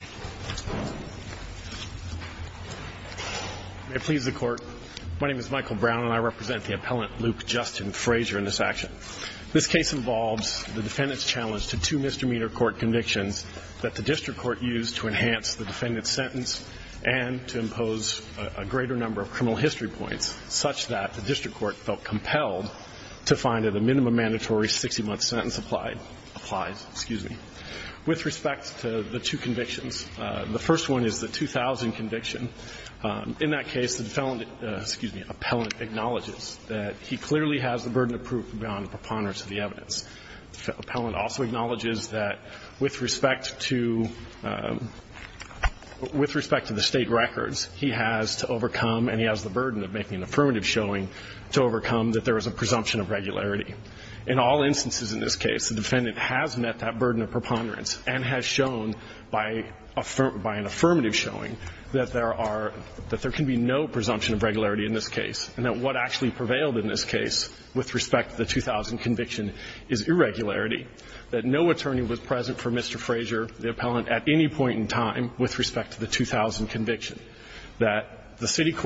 May it please the Court, my name is Michael Brown and I represent the appellant Luke Justin Frazier in this action. This case involves the defendant's challenge to two misdemeanor court convictions that the district court used to enhance the defendant's sentence and to impose a greater number of criminal history points such that the district court felt compelled to find that a minimum mandatory 60-month sentence applies. With respect to the two convictions, the first one is the 2000 conviction. In that case, the defendant, excuse me, the appellant acknowledges that he clearly has the burden of proof beyond preponderance of the evidence. The appellant also acknowledges that with respect to the State records, he has to overcome, and he has the burden of making an affirmative showing, to overcome that there is a presumption of regularity. In all instances in this case, the defendant has met that burden of preponderance and has shown by an affirmative showing that there are, that there can be no presumption of regularity in this case, and that what actually prevailed in this case with respect to the 2000 conviction is irregularity, that no attorney was present for Mr. Frazier, the appellant, at any point in time with respect to the 2000 conviction, that the city was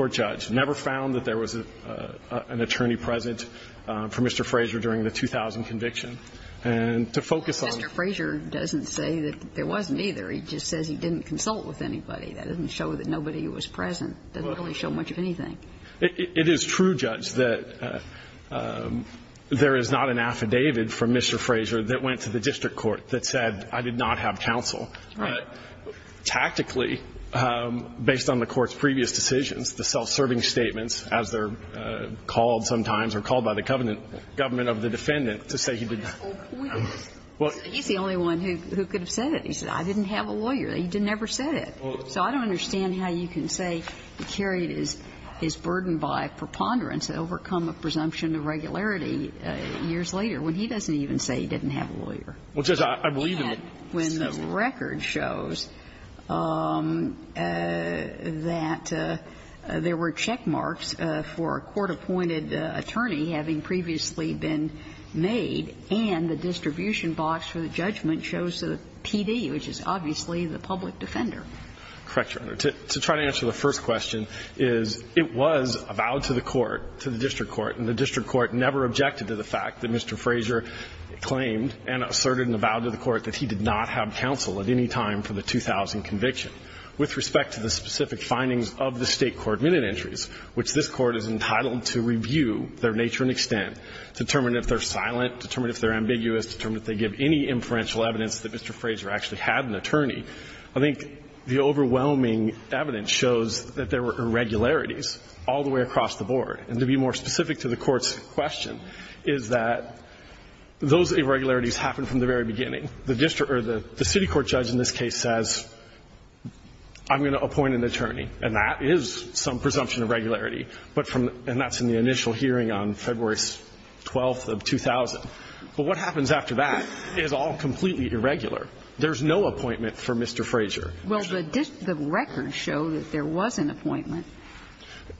present during the 2000 conviction. And to focus on the other one, which is the two convictions, to make that claim claim during the 2000 conviction, and to focus on the other one. And Mr. Frazier doesn't say that there wasn't either. He just says he didn't consult with anybody. That doesn't show that nobody was present. That doesn't really show much of anything. It is true, Judge, that there is not an affidavit from Mr. Frazier that went to the district court that said, I did not have counsel. Right. Tactically, based on the court's previous decisions, the self-serving statements, as they're called sometimes or called by the government of the defendant, to say he did not. He's the only one who could have said it. He said, I didn't have a lawyer. He never said it. So I don't understand how you can say he carried his burden by preponderance to overcome a presumption of regularity years later, when he doesn't even say he didn't have a lawyer. And when the record shows that there were checkmarks for a court-appointed attorney having previously been made, and the distribution box for the judgment shows a PD, which is obviously the public defender. Correct, Your Honor. To try to answer the first question is, it was a vow to the court, to the district court, and the district court never objected to the fact that Mr. Frazier claimed and asserted in the vow to the court that he did not have counsel at any time for the 2000 conviction. With respect to the specific findings of the State court minute entries, which this court is entitled to review their nature and extent, determine if they're silent, determine if they're ambiguous, determine if they give any inferential evidence that Mr. Frazier actually had an attorney, I think the overwhelming evidence shows that there were irregularities all the way across the board. And to be more specific to the Court's question is that those irregularities happened from the very beginning. The district or the city court judge in this case says, I'm going to appoint an attorney, and that is some presumption of regularity. But from, and that's in the initial hearing on February 12th of 2000. But what happens after that is all completely irregular. There's no appointment for Mr. Frazier. Well, the records show that there was an appointment,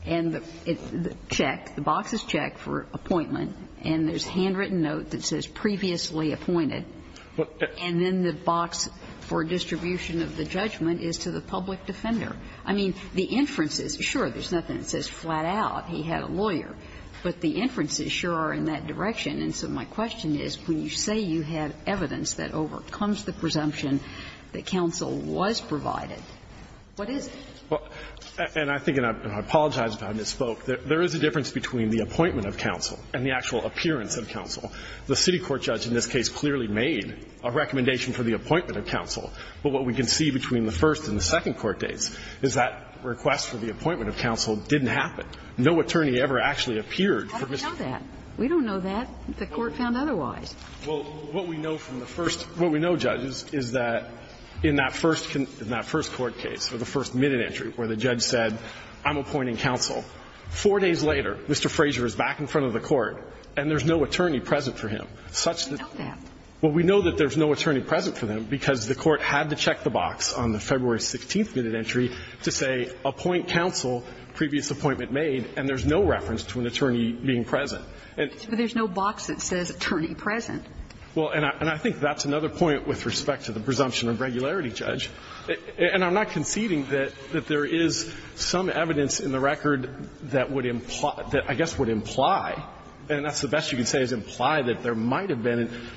and it's checked. The box is checked for appointment. And there's a handwritten note that says previously appointed. And then the box for distribution of the judgment is to the public defender. I mean, the inferences, sure, there's nothing that says flat-out he had a lawyer. But the inferences sure are in that direction. And so my question is, when you say you have evidence that overcomes the presumption that counsel was provided, what is it? Well, and I think, and I apologize if I misspoke, there is a difference between the appointment of counsel and the actual appearance of counsel. The city court judge in this case clearly made a recommendation for the appointment of counsel. But what we can see between the first and the second court dates is that request for the appointment of counsel didn't happen. No attorney ever actually appeared for Mr. Frazier. We don't know that. The court found otherwise. Well, what we know from the first, what we know, Judge, is that in that first court case, or the first minute entry where the judge said, I'm appointing counsel, four days later, Mr. Frazier is back in front of the court and there's no attorney present for him, such that. We know that. We know that there's no attorney present for them, because the court had to check the box on the February 16th minute entry to say, appoint counsel, previous appointment made, and there's no reference to an attorney being present. But there's no box that says attorney present. Well, and I think that's another point with respect to the presumption of regularity, Judge. And I'm not conceding that there is some evidence in the record that would imply that, I guess, would imply, and that's the best you can say is imply that there was an attorney present.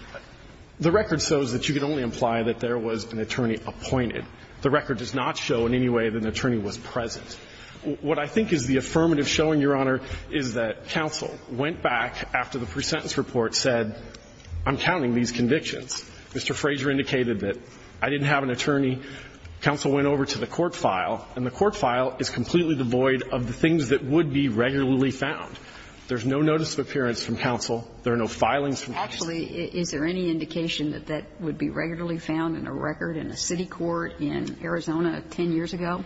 The record shows that you could only imply that there was an attorney appointed. The record does not show in any way that an attorney was present. What I think is the affirmative showing, Your Honor, is that counsel went back after the presentence report said, I'm counting these convictions. Mr. Frazier indicated that I didn't have an attorney. Counsel went over to the court file, and the court file is completely devoid of the things that would be regularly found. There's no notice of appearance from counsel. There are no filings from counsel. Actually, is there any indication that that would be regularly found in a record in a city court in Arizona 10 years ago?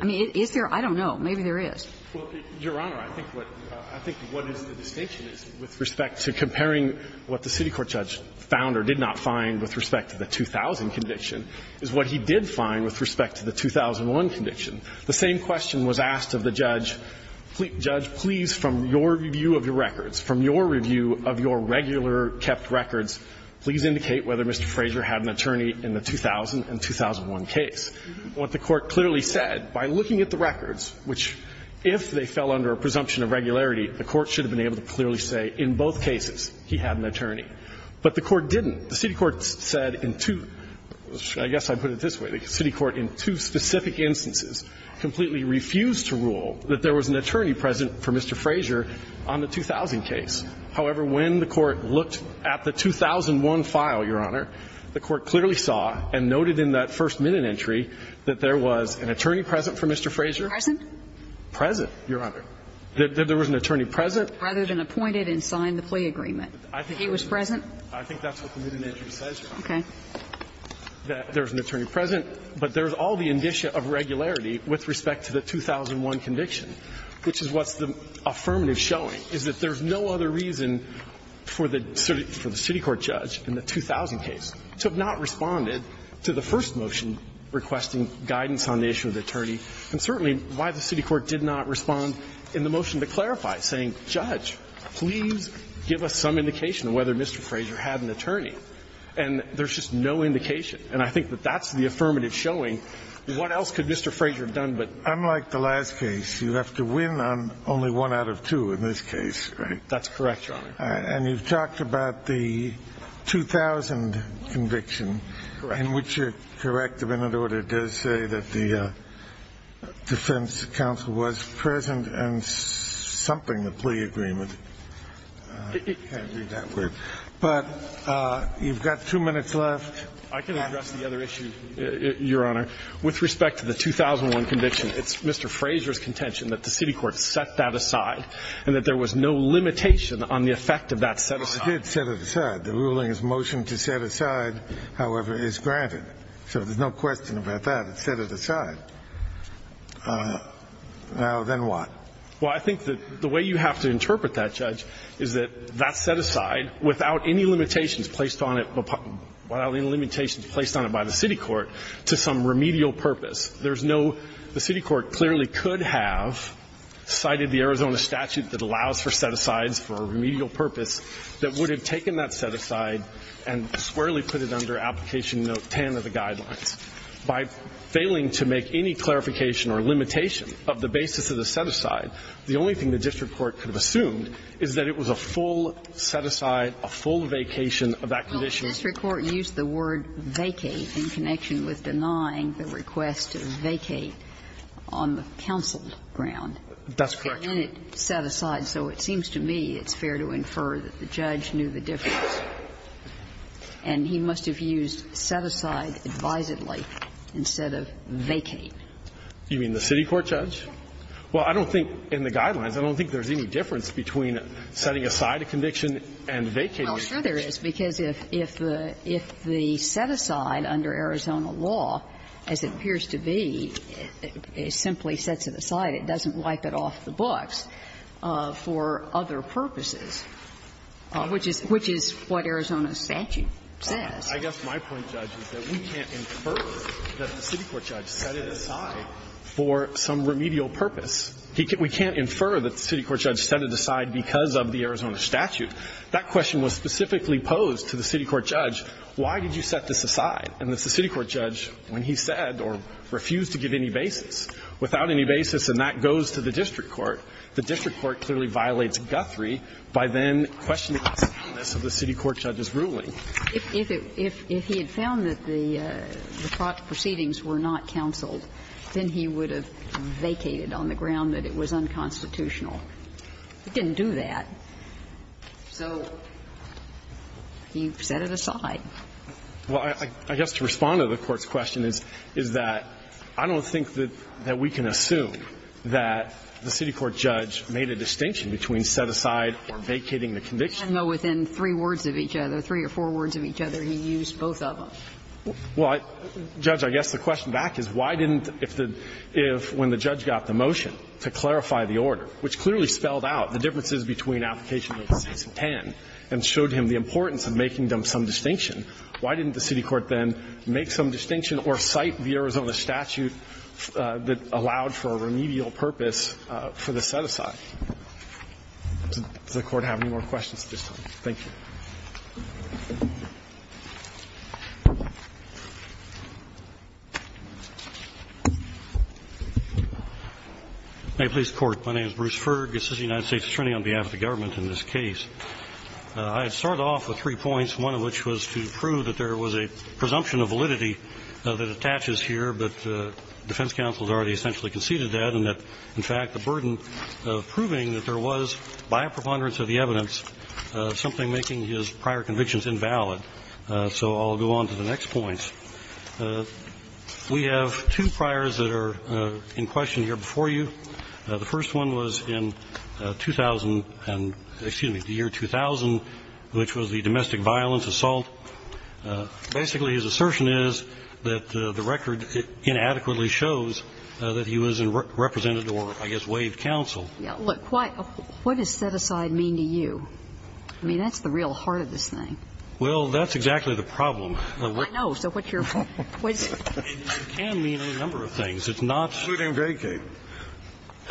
I mean, is there? I don't know. Maybe there is. Well, Your Honor, I think what is the distinction is, with respect to comparing what the city court judge found or did not find with respect to the 2000 conviction, is what he did find with respect to the 2001 conviction. The same question was asked of the judge. Judge, please, from your review of your records, from your review of your regular kept records, please indicate whether Mr. Frazier had an attorney in the 2000 and 2001 case. What the court clearly said, by looking at the records, which, if they fell under a presumption of regularity, the court should have been able to clearly say, in both cases, he had an attorney. But the court didn't. The city court said in two – I guess I put it this way. The city court, in two specific instances, completely refused to rule that there was an attorney present for Mr. Frazier on the 2000 case. However, when the court looked at the 2001 file, Your Honor, the court clearly saw and noted in that first minute entry that there was an attorney present for Mr. Frazier. Present? Present, Your Honor. There was an attorney present. Rather than appointed and signed the plea agreement. He was present? I think that's what the minute entry says, Your Honor. Okay. The court clearly saw that there was an attorney present, but there's all the indicia of regularity with respect to the 2001 conviction, which is what's the affirmative showing, is that there's no other reason for the city court judge in the 2000 case to have not responded to the first motion requesting guidance on the issue of the attorney, and certainly why the city court did not respond in the motion to clarify, saying, Judge, please give us some indication of whether Mr. Frazier had an attorney. And there's just no indication. And I think that that's the affirmative showing. What else could Mr. Frazier have done but? Unlike the last case, you have to win on only one out of two in this case, right? That's correct, Your Honor. And you've talked about the 2000 conviction. Correct. In which you're correct, the minute order does say that the defense counsel was present and something, the plea agreement. I can't read that word. But you've got two minutes left. I can address the other issue, Your Honor. With respect to the 2001 conviction, it's Mr. Frazier's contention that the city court set that aside and that there was no limitation on the effect of that set aside. It did set it aside. The ruling's motion to set aside, however, is granted. So there's no question about that. It set it aside. Now, then what? Well, I think that the way you have to interpret that, Judge, is that that set aside without any limitations placed on it, without any limitations placed on it by the city court to some remedial purpose. There's no the city court clearly could have cited the Arizona statute that allows for set asides for a remedial purpose that would have taken that set aside and squarely put it under application note 10 of the guidelines. By failing to make any clarification or limitation of the basis of the set aside, the only thing the district court could have assumed is that it was a full set aside and a full vacation of that condition. Well, the district court used the word vacate in connection with denying the request to vacate on the counsel ground. That's correct. And then it set aside. So it seems to me it's fair to infer that the judge knew the difference. And he must have used set aside advisedly instead of vacate. You mean the city court judge? Well, I don't think in the guidelines, I don't think there's any difference between setting aside a conviction and vacating a conviction. Well, sure there is, because if the set aside under Arizona law, as it appears to be, simply sets it aside, it doesn't wipe it off the books for other purposes, which is what Arizona statute says. I guess my point, Judge, is that we can't infer that the city court judge set it aside for some remedial purpose. We can't infer that the city court judge set it aside because of the Arizona statute. That question was specifically posed to the city court judge, why did you set this aside? And the city court judge, when he said or refused to give any basis without any basis, and that goes to the district court, the district court clearly violates Guthrie by then questioning the soundness of the city court judge's ruling. If he had found that the proceedings were not counseled, then he would have vacated on the ground that it was unconstitutional. He didn't do that. So you set it aside. Well, I guess to respond to the Court's question is that I don't think that we can assume that the city court judge made a distinction between set aside or vacating the conviction. Even though within three words of each other, three or four words of each other, he used both of them. Well, Judge, I guess the question back is why didn't, if the – if when the judge got the motion to clarify the order, which clearly spelled out the differences between applications 6 and 10 and showed him the importance of making them some distinction, why didn't the city court then make some distinction or cite the Arizona statute that allowed for a remedial purpose for the set aside? Does the Court have any more questions at this time? Thank you. May it please the Court. My name is Bruce Fergus. This is the United States Attorney on behalf of the government in this case. I start off with three points, one of which was to prove that there was a presumption of validity that attaches here, but defense counsel has already essentially conceded that, and that, in fact, the burden of proving that there was, by a preponderance of the evidence, something making his prior convictions invalid. So I'll go on to the next points. We have two priors that are in question here before you. The first one was in 2000 and – excuse me, the year 2000, which was the domestic violence assault. Basically, his assertion is that the record inadequately shows that he was a representative or, I guess, waived counsel. Look, what does set aside mean to you? I mean, that's the real heart of this thing. Well, that's exactly the problem. I know. So what's your point? It can mean a number of things. It's not – Including vacate.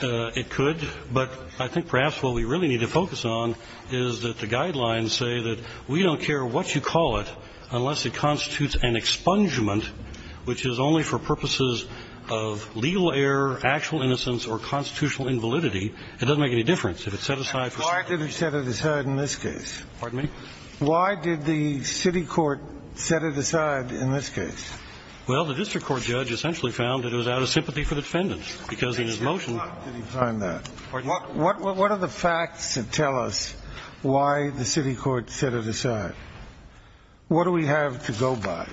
It could. But I think perhaps what we really need to focus on is that the guidelines say that we don't care what you call it unless it constitutes an expungement, which is only for purposes of legal error, actual innocence, or constitutional invalidity. It doesn't make any difference if it's set aside for some reason. Why did he set it aside in this case? Pardon me? Why did the city court set it aside in this case? Well, the district court judge essentially found that it was out of sympathy for the defendants, because in his motion – Where did he find that? What are the facts that tell us why the city court set it aside? What do we have to go by?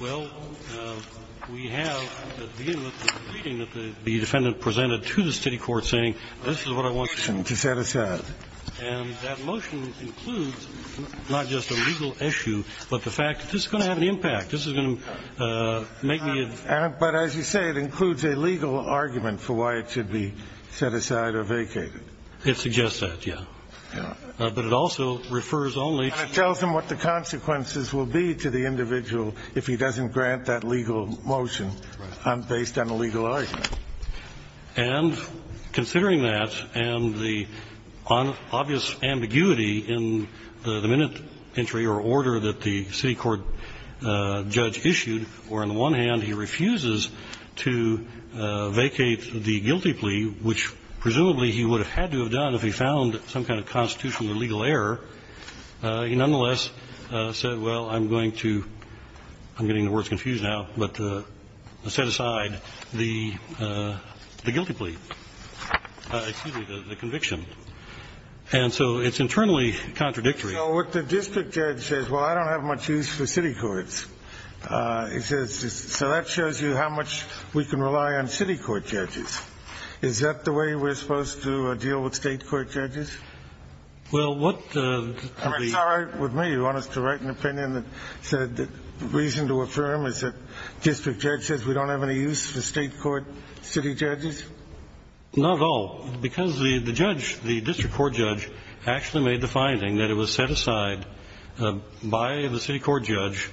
Well, we have at the beginning of the meeting that the defendant presented to the city court saying, this is what I want you to set aside. And that motion includes not just a legal issue, but the fact that this is going to have an impact. This is going to make me – But as you say, it includes a legal argument for why it should be set aside or vacated. It suggests that, yeah. But it also refers only to – If he doesn't grant that legal motion based on a legal argument. And considering that and the obvious ambiguity in the minute entry or order that the city court judge issued, where on the one hand he refuses to vacate the guilty plea, which presumably he would have had to have done if he found some kind of constitutional or legal error, he nonetheless said, well, I'm going to – I'm getting the words confused now, but set aside the guilty plea. Excuse me, the conviction. And so it's internally contradictory. So what the district judge says, well, I don't have much use for city courts. So that shows you how much we can rely on city court judges. Is that the way we're supposed to deal with state court judges? Well, what the – I'm sorry, with me, you want us to write an opinion that said the reason to affirm is that district judge says we don't have any use for state court city judges? Not at all. Because the judge, the district court judge actually made the finding that it was set aside by the city court judge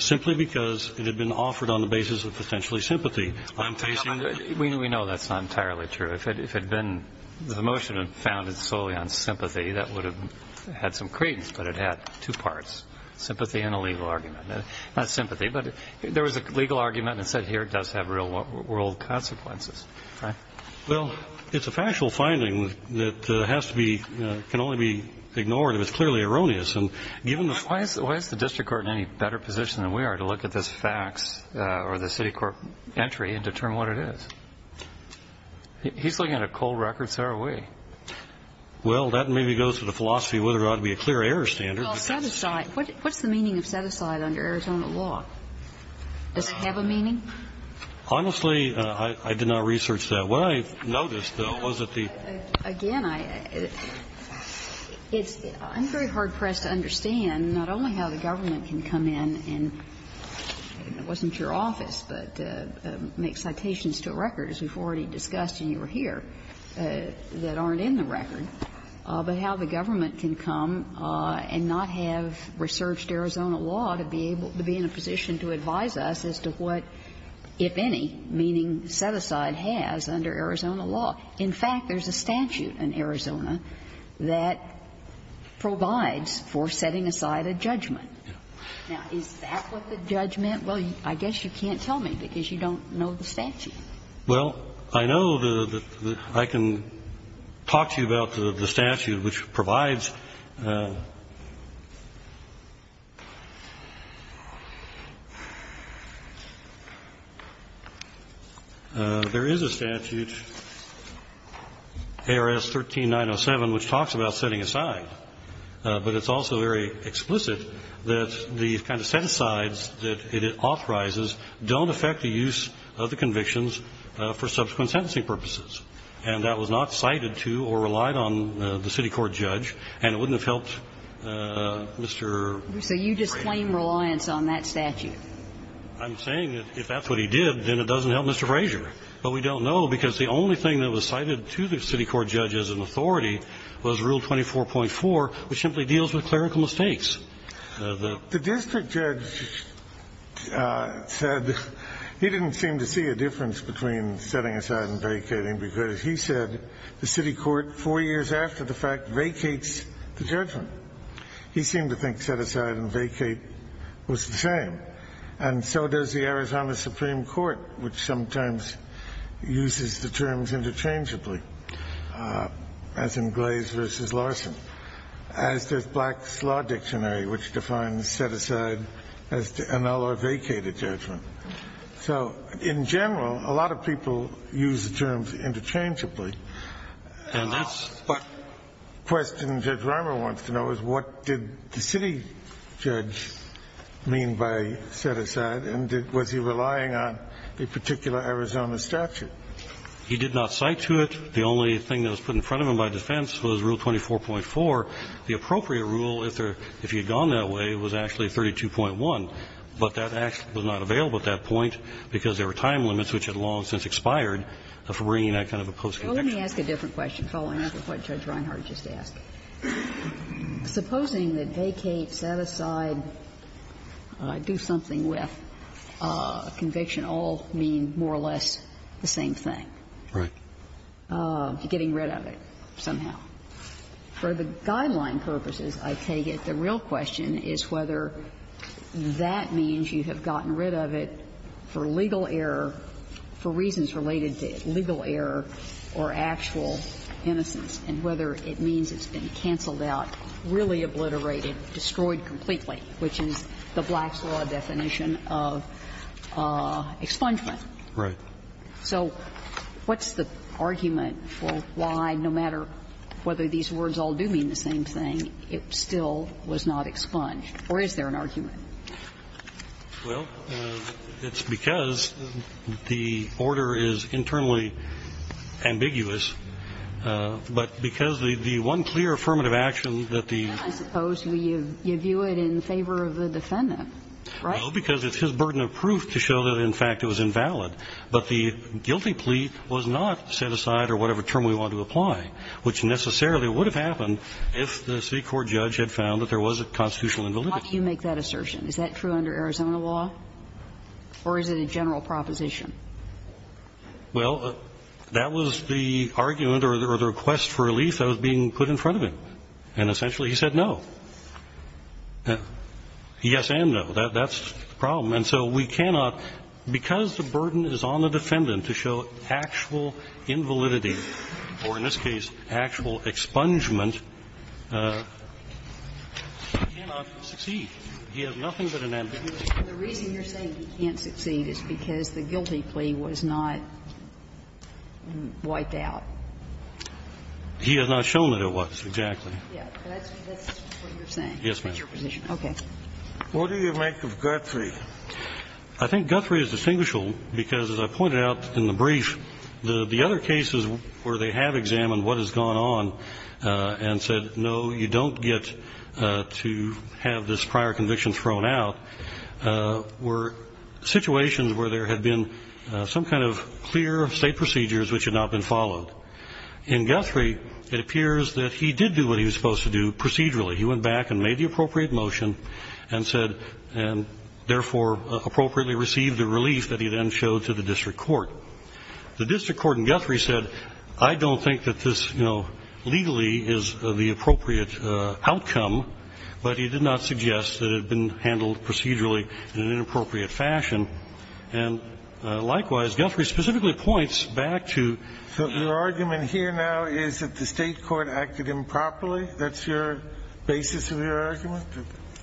simply because it had been offered on the basis of potentially sympathy. I'm facing – We know that's not entirely true. But if it had been – the motion had been founded solely on sympathy, that would have had some credence, but it had two parts, sympathy and a legal argument. Not sympathy, but there was a legal argument that said here it does have real world consequences, right? Well, it's a factual finding that has to be – can only be ignored if it's clearly erroneous. And given the – Why is the district court in any better position than we are to look at this facts or the city court entry and determine what it is? He's looking at a cold record. So are we. Well, that maybe goes to the philosophy of whether there ought to be a clear error standard. Well, set aside – what's the meaning of set aside under Arizona law? Does it have a meaning? Honestly, I did not research that. What I noticed, though, was that the – Again, I – it's – I'm very hard pressed to understand not only how the government can come in and – it wasn't your office, but make citations to a record, as we've already discussed and you were here, that aren't in the record, but how the government can come and not have researched Arizona law to be able – to be in a position to advise us as to what, if any, meaning set aside has under Arizona law. In fact, there's a statute in Arizona that provides for setting aside a judgment Now, is that what the judgment – well, I guess you can't tell me because you don't know the statute. Well, I know the – I can talk to you about the statute, which provides – There is a statute, ARS 13907, which talks about setting aside. But it's also very explicit that the kind of set-asides that it authorizes don't affect the use of the convictions for subsequent sentencing purposes. And that was not cited to or relied on the city court judge, and it wouldn't have helped Mr. Frazier. So you just claim reliance on that statute? I'm saying that if that's what he did, then it doesn't help Mr. Frazier. But we don't know because the only thing that was cited to the city court judge as an authority was Rule 24.4, which simply deals with clerical mistakes. The district judge said he didn't seem to see a difference between setting aside and vacating because he said the city court, four years after the fact, vacates the judgment. He seemed to think set aside and vacate was the same. And so does the Arizona Supreme Court, which sometimes uses the terms interchangeably. As in Glaze v. Larson. As does Black's Law Dictionary, which defines set aside as annul or vacate a judgment. So in general, a lot of people use the terms interchangeably. And that's what Question Judge Reimer wants to know is what did the city judge mean by set aside and was he relying on a particular Arizona statute? He did not cite to it. The only thing that was put in front of him by defense was Rule 24.4. The appropriate rule, if he had gone that way, was actually 32.1. But that act was not available at that point because there were time limits which had long since expired for bringing that kind of a post-conviction. Well, let me ask a different question following up with what Judge Reinhart just asked. Supposing that vacate, set aside, do something with conviction all mean more or less the same thing. Right. And for the purposes of the guidelines, I take it the real question is whether that means you have gotten rid of it for legal error, for reasons related to legal error or actual innocence and whether it means it's been canceled out, really obliterated, destroyed completely, which is the Black's Law definition of expungement. Right. So what's the argument for why, no matter whether these words all do mean the same thing, it still was not expunged? Or is there an argument? Well, it's because the order is internally ambiguous, but because the one clear affirmative action that the. I suppose you view it in favor of the defendant, right? Well, because it's his burden of proof to show that in fact it was invalid. But the guilty plea was not set aside or whatever term we want to apply, which necessarily would have happened if the city court judge had found that there was a constitutional invalidity. Why do you make that assertion? Is that true under Arizona law? Or is it a general proposition? Well, that was the argument or the request for relief that was being put in front of him. And essentially he said no. Yes and no. That's the problem. And so we cannot, because the burden is on the defendant to show actual invalidity or, in this case, actual expungement, he cannot succeed. He has nothing but an ambiguity. The reason you're saying he can't succeed is because the guilty plea was not wiped out. He has not shown that it was, exactly. Yes, that's what you're saying. Yes, ma'am. That's your position. Okay. What do you make of Guthrie? I think Guthrie is distinguishable because, as I pointed out in the brief, the other cases where they have examined what has gone on and said no, you don't get to have this prior conviction thrown out were situations where there had been some kind of clear state procedures which had not been followed. In Guthrie, it appears that he did do what he was supposed to do procedurally. He went back and made the appropriate motion and said, and therefore appropriately received the relief that he then showed to the district court. The district court in Guthrie said, I don't think that this, you know, legally is the appropriate outcome, but he did not suggest that it had been handled procedurally in an inappropriate fashion. And likewise, Guthrie specifically points back to the argument here now is that the state court acted improperly. That's your basis of your argument?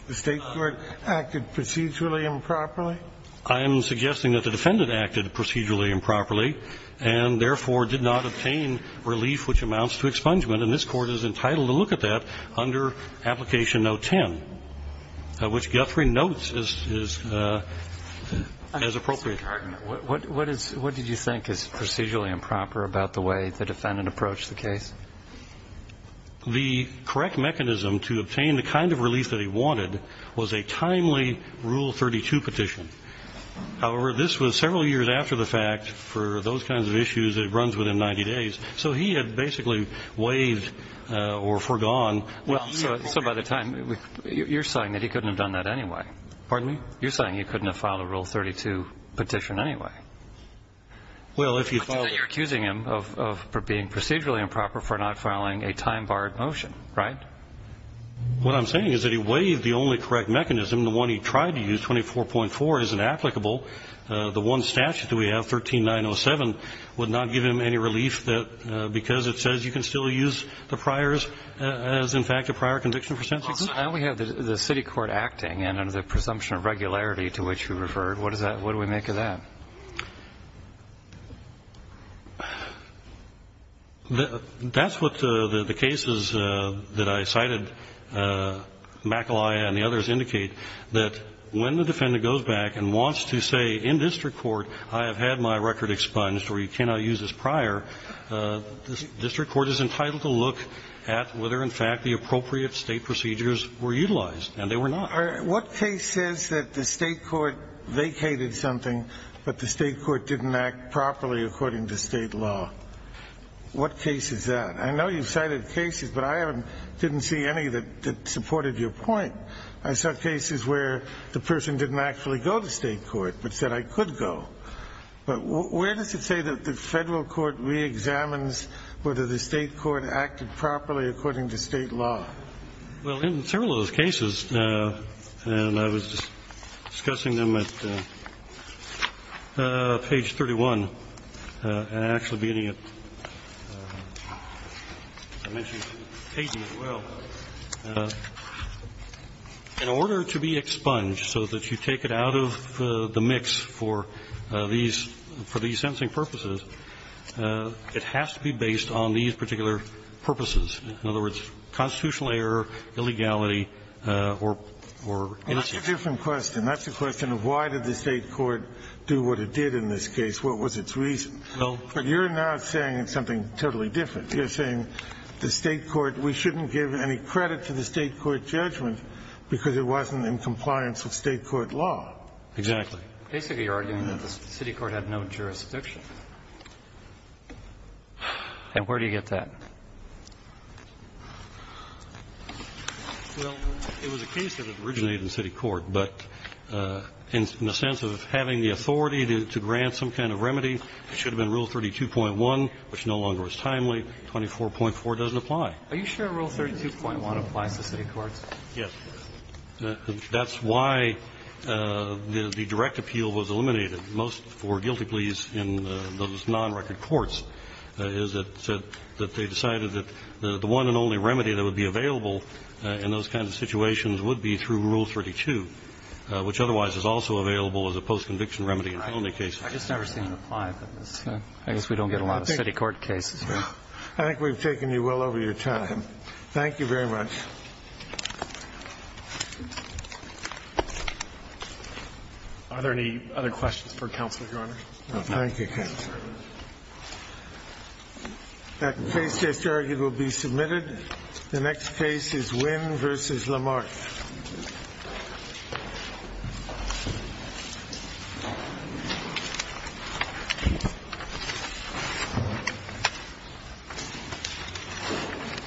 The state court acted procedurally improperly? I am suggesting that the defendant acted procedurally improperly and, therefore, did not obtain relief which amounts to expungement. And this Court is entitled to look at that under Application Note 10, which Guthrie notes is as appropriate. Mr. Gardner, what did you think is procedurally improper about the way the defendant approached the case? The correct mechanism to obtain the kind of relief that he wanted was a timely Rule 32 petition. However, this was several years after the fact for those kinds of issues that runs within 90 days. So he had basically waived or forgone. Well, so by the time you're saying that he couldn't have done that anyway? Pardon me? You're saying he couldn't have filed a Rule 32 petition anyway? Well, if you filed it. Well, I'm saying that he waived the correct mechanism of being procedurally improper for not filing a time-barred motion, right? What I'm saying is that he waived the only correct mechanism. The one he tried to use, 24.4, isn't applicable. The one statute that we have, 13907, would not give him any relief because it says you can still use the priors as, in fact, a prior conviction for sentencing? Well, so now we have the city court acting, and under the presumption of regularity to which we referred, what does that do? What do we make of that? That's what the cases that I cited, McAleya and the others, indicate, that when the defendant goes back and wants to say in district court, I have had my record expunged or you cannot use this prior, the district court is entitled to look at whether in fact the appropriate State procedures were utilized, and they were not. What case says that the State court vacated something, but the State court didn't act properly according to State law? What case is that? I know you cited cases, but I didn't see any that supported your point. I saw cases where the person didn't actually go to State court, but said I could go. But where does it say that the Federal court reexamines whether the State court acted properly according to State law? Well, in several of those cases, and I was discussing them at page 31, and actually beginning at page 80 as well, in order to be expunged so that you take it out of the mix for these sentencing purposes, it has to be based on these particular purposes. In other words, constitutional error, illegality, or innocence. Well, that's a different question. That's a question of why did the State court do what it did in this case? What was its reason? Well. But you're not saying something totally different. You're saying the State court, we shouldn't give any credit to the State court judgment because it wasn't in compliance with State court law. Exactly. Basically, you're arguing that the city court had no jurisdiction. And where do you get that? Well, it was a case that originated in city court. But in the sense of having the authority to grant some kind of remedy, it should have been Rule 32.1, which no longer is timely. 24.4 doesn't apply. Are you sure Rule 32.1 applies to city courts? Yes. That's why the direct appeal was eliminated most for guilty pleas in those non-record courts, is that they decided that the one and only remedy that would be available in those kinds of situations would be through Rule 32, which otherwise is also available as a post-conviction remedy in felony cases. I guess we don't get a lot of city court cases. I think we've taken you well over your time. Thank you very much. Are there any other questions for counsel, Your Honor? No. Thank you, counsel. That case just argued will be submitted. The next case is Wynn v. Lamarth.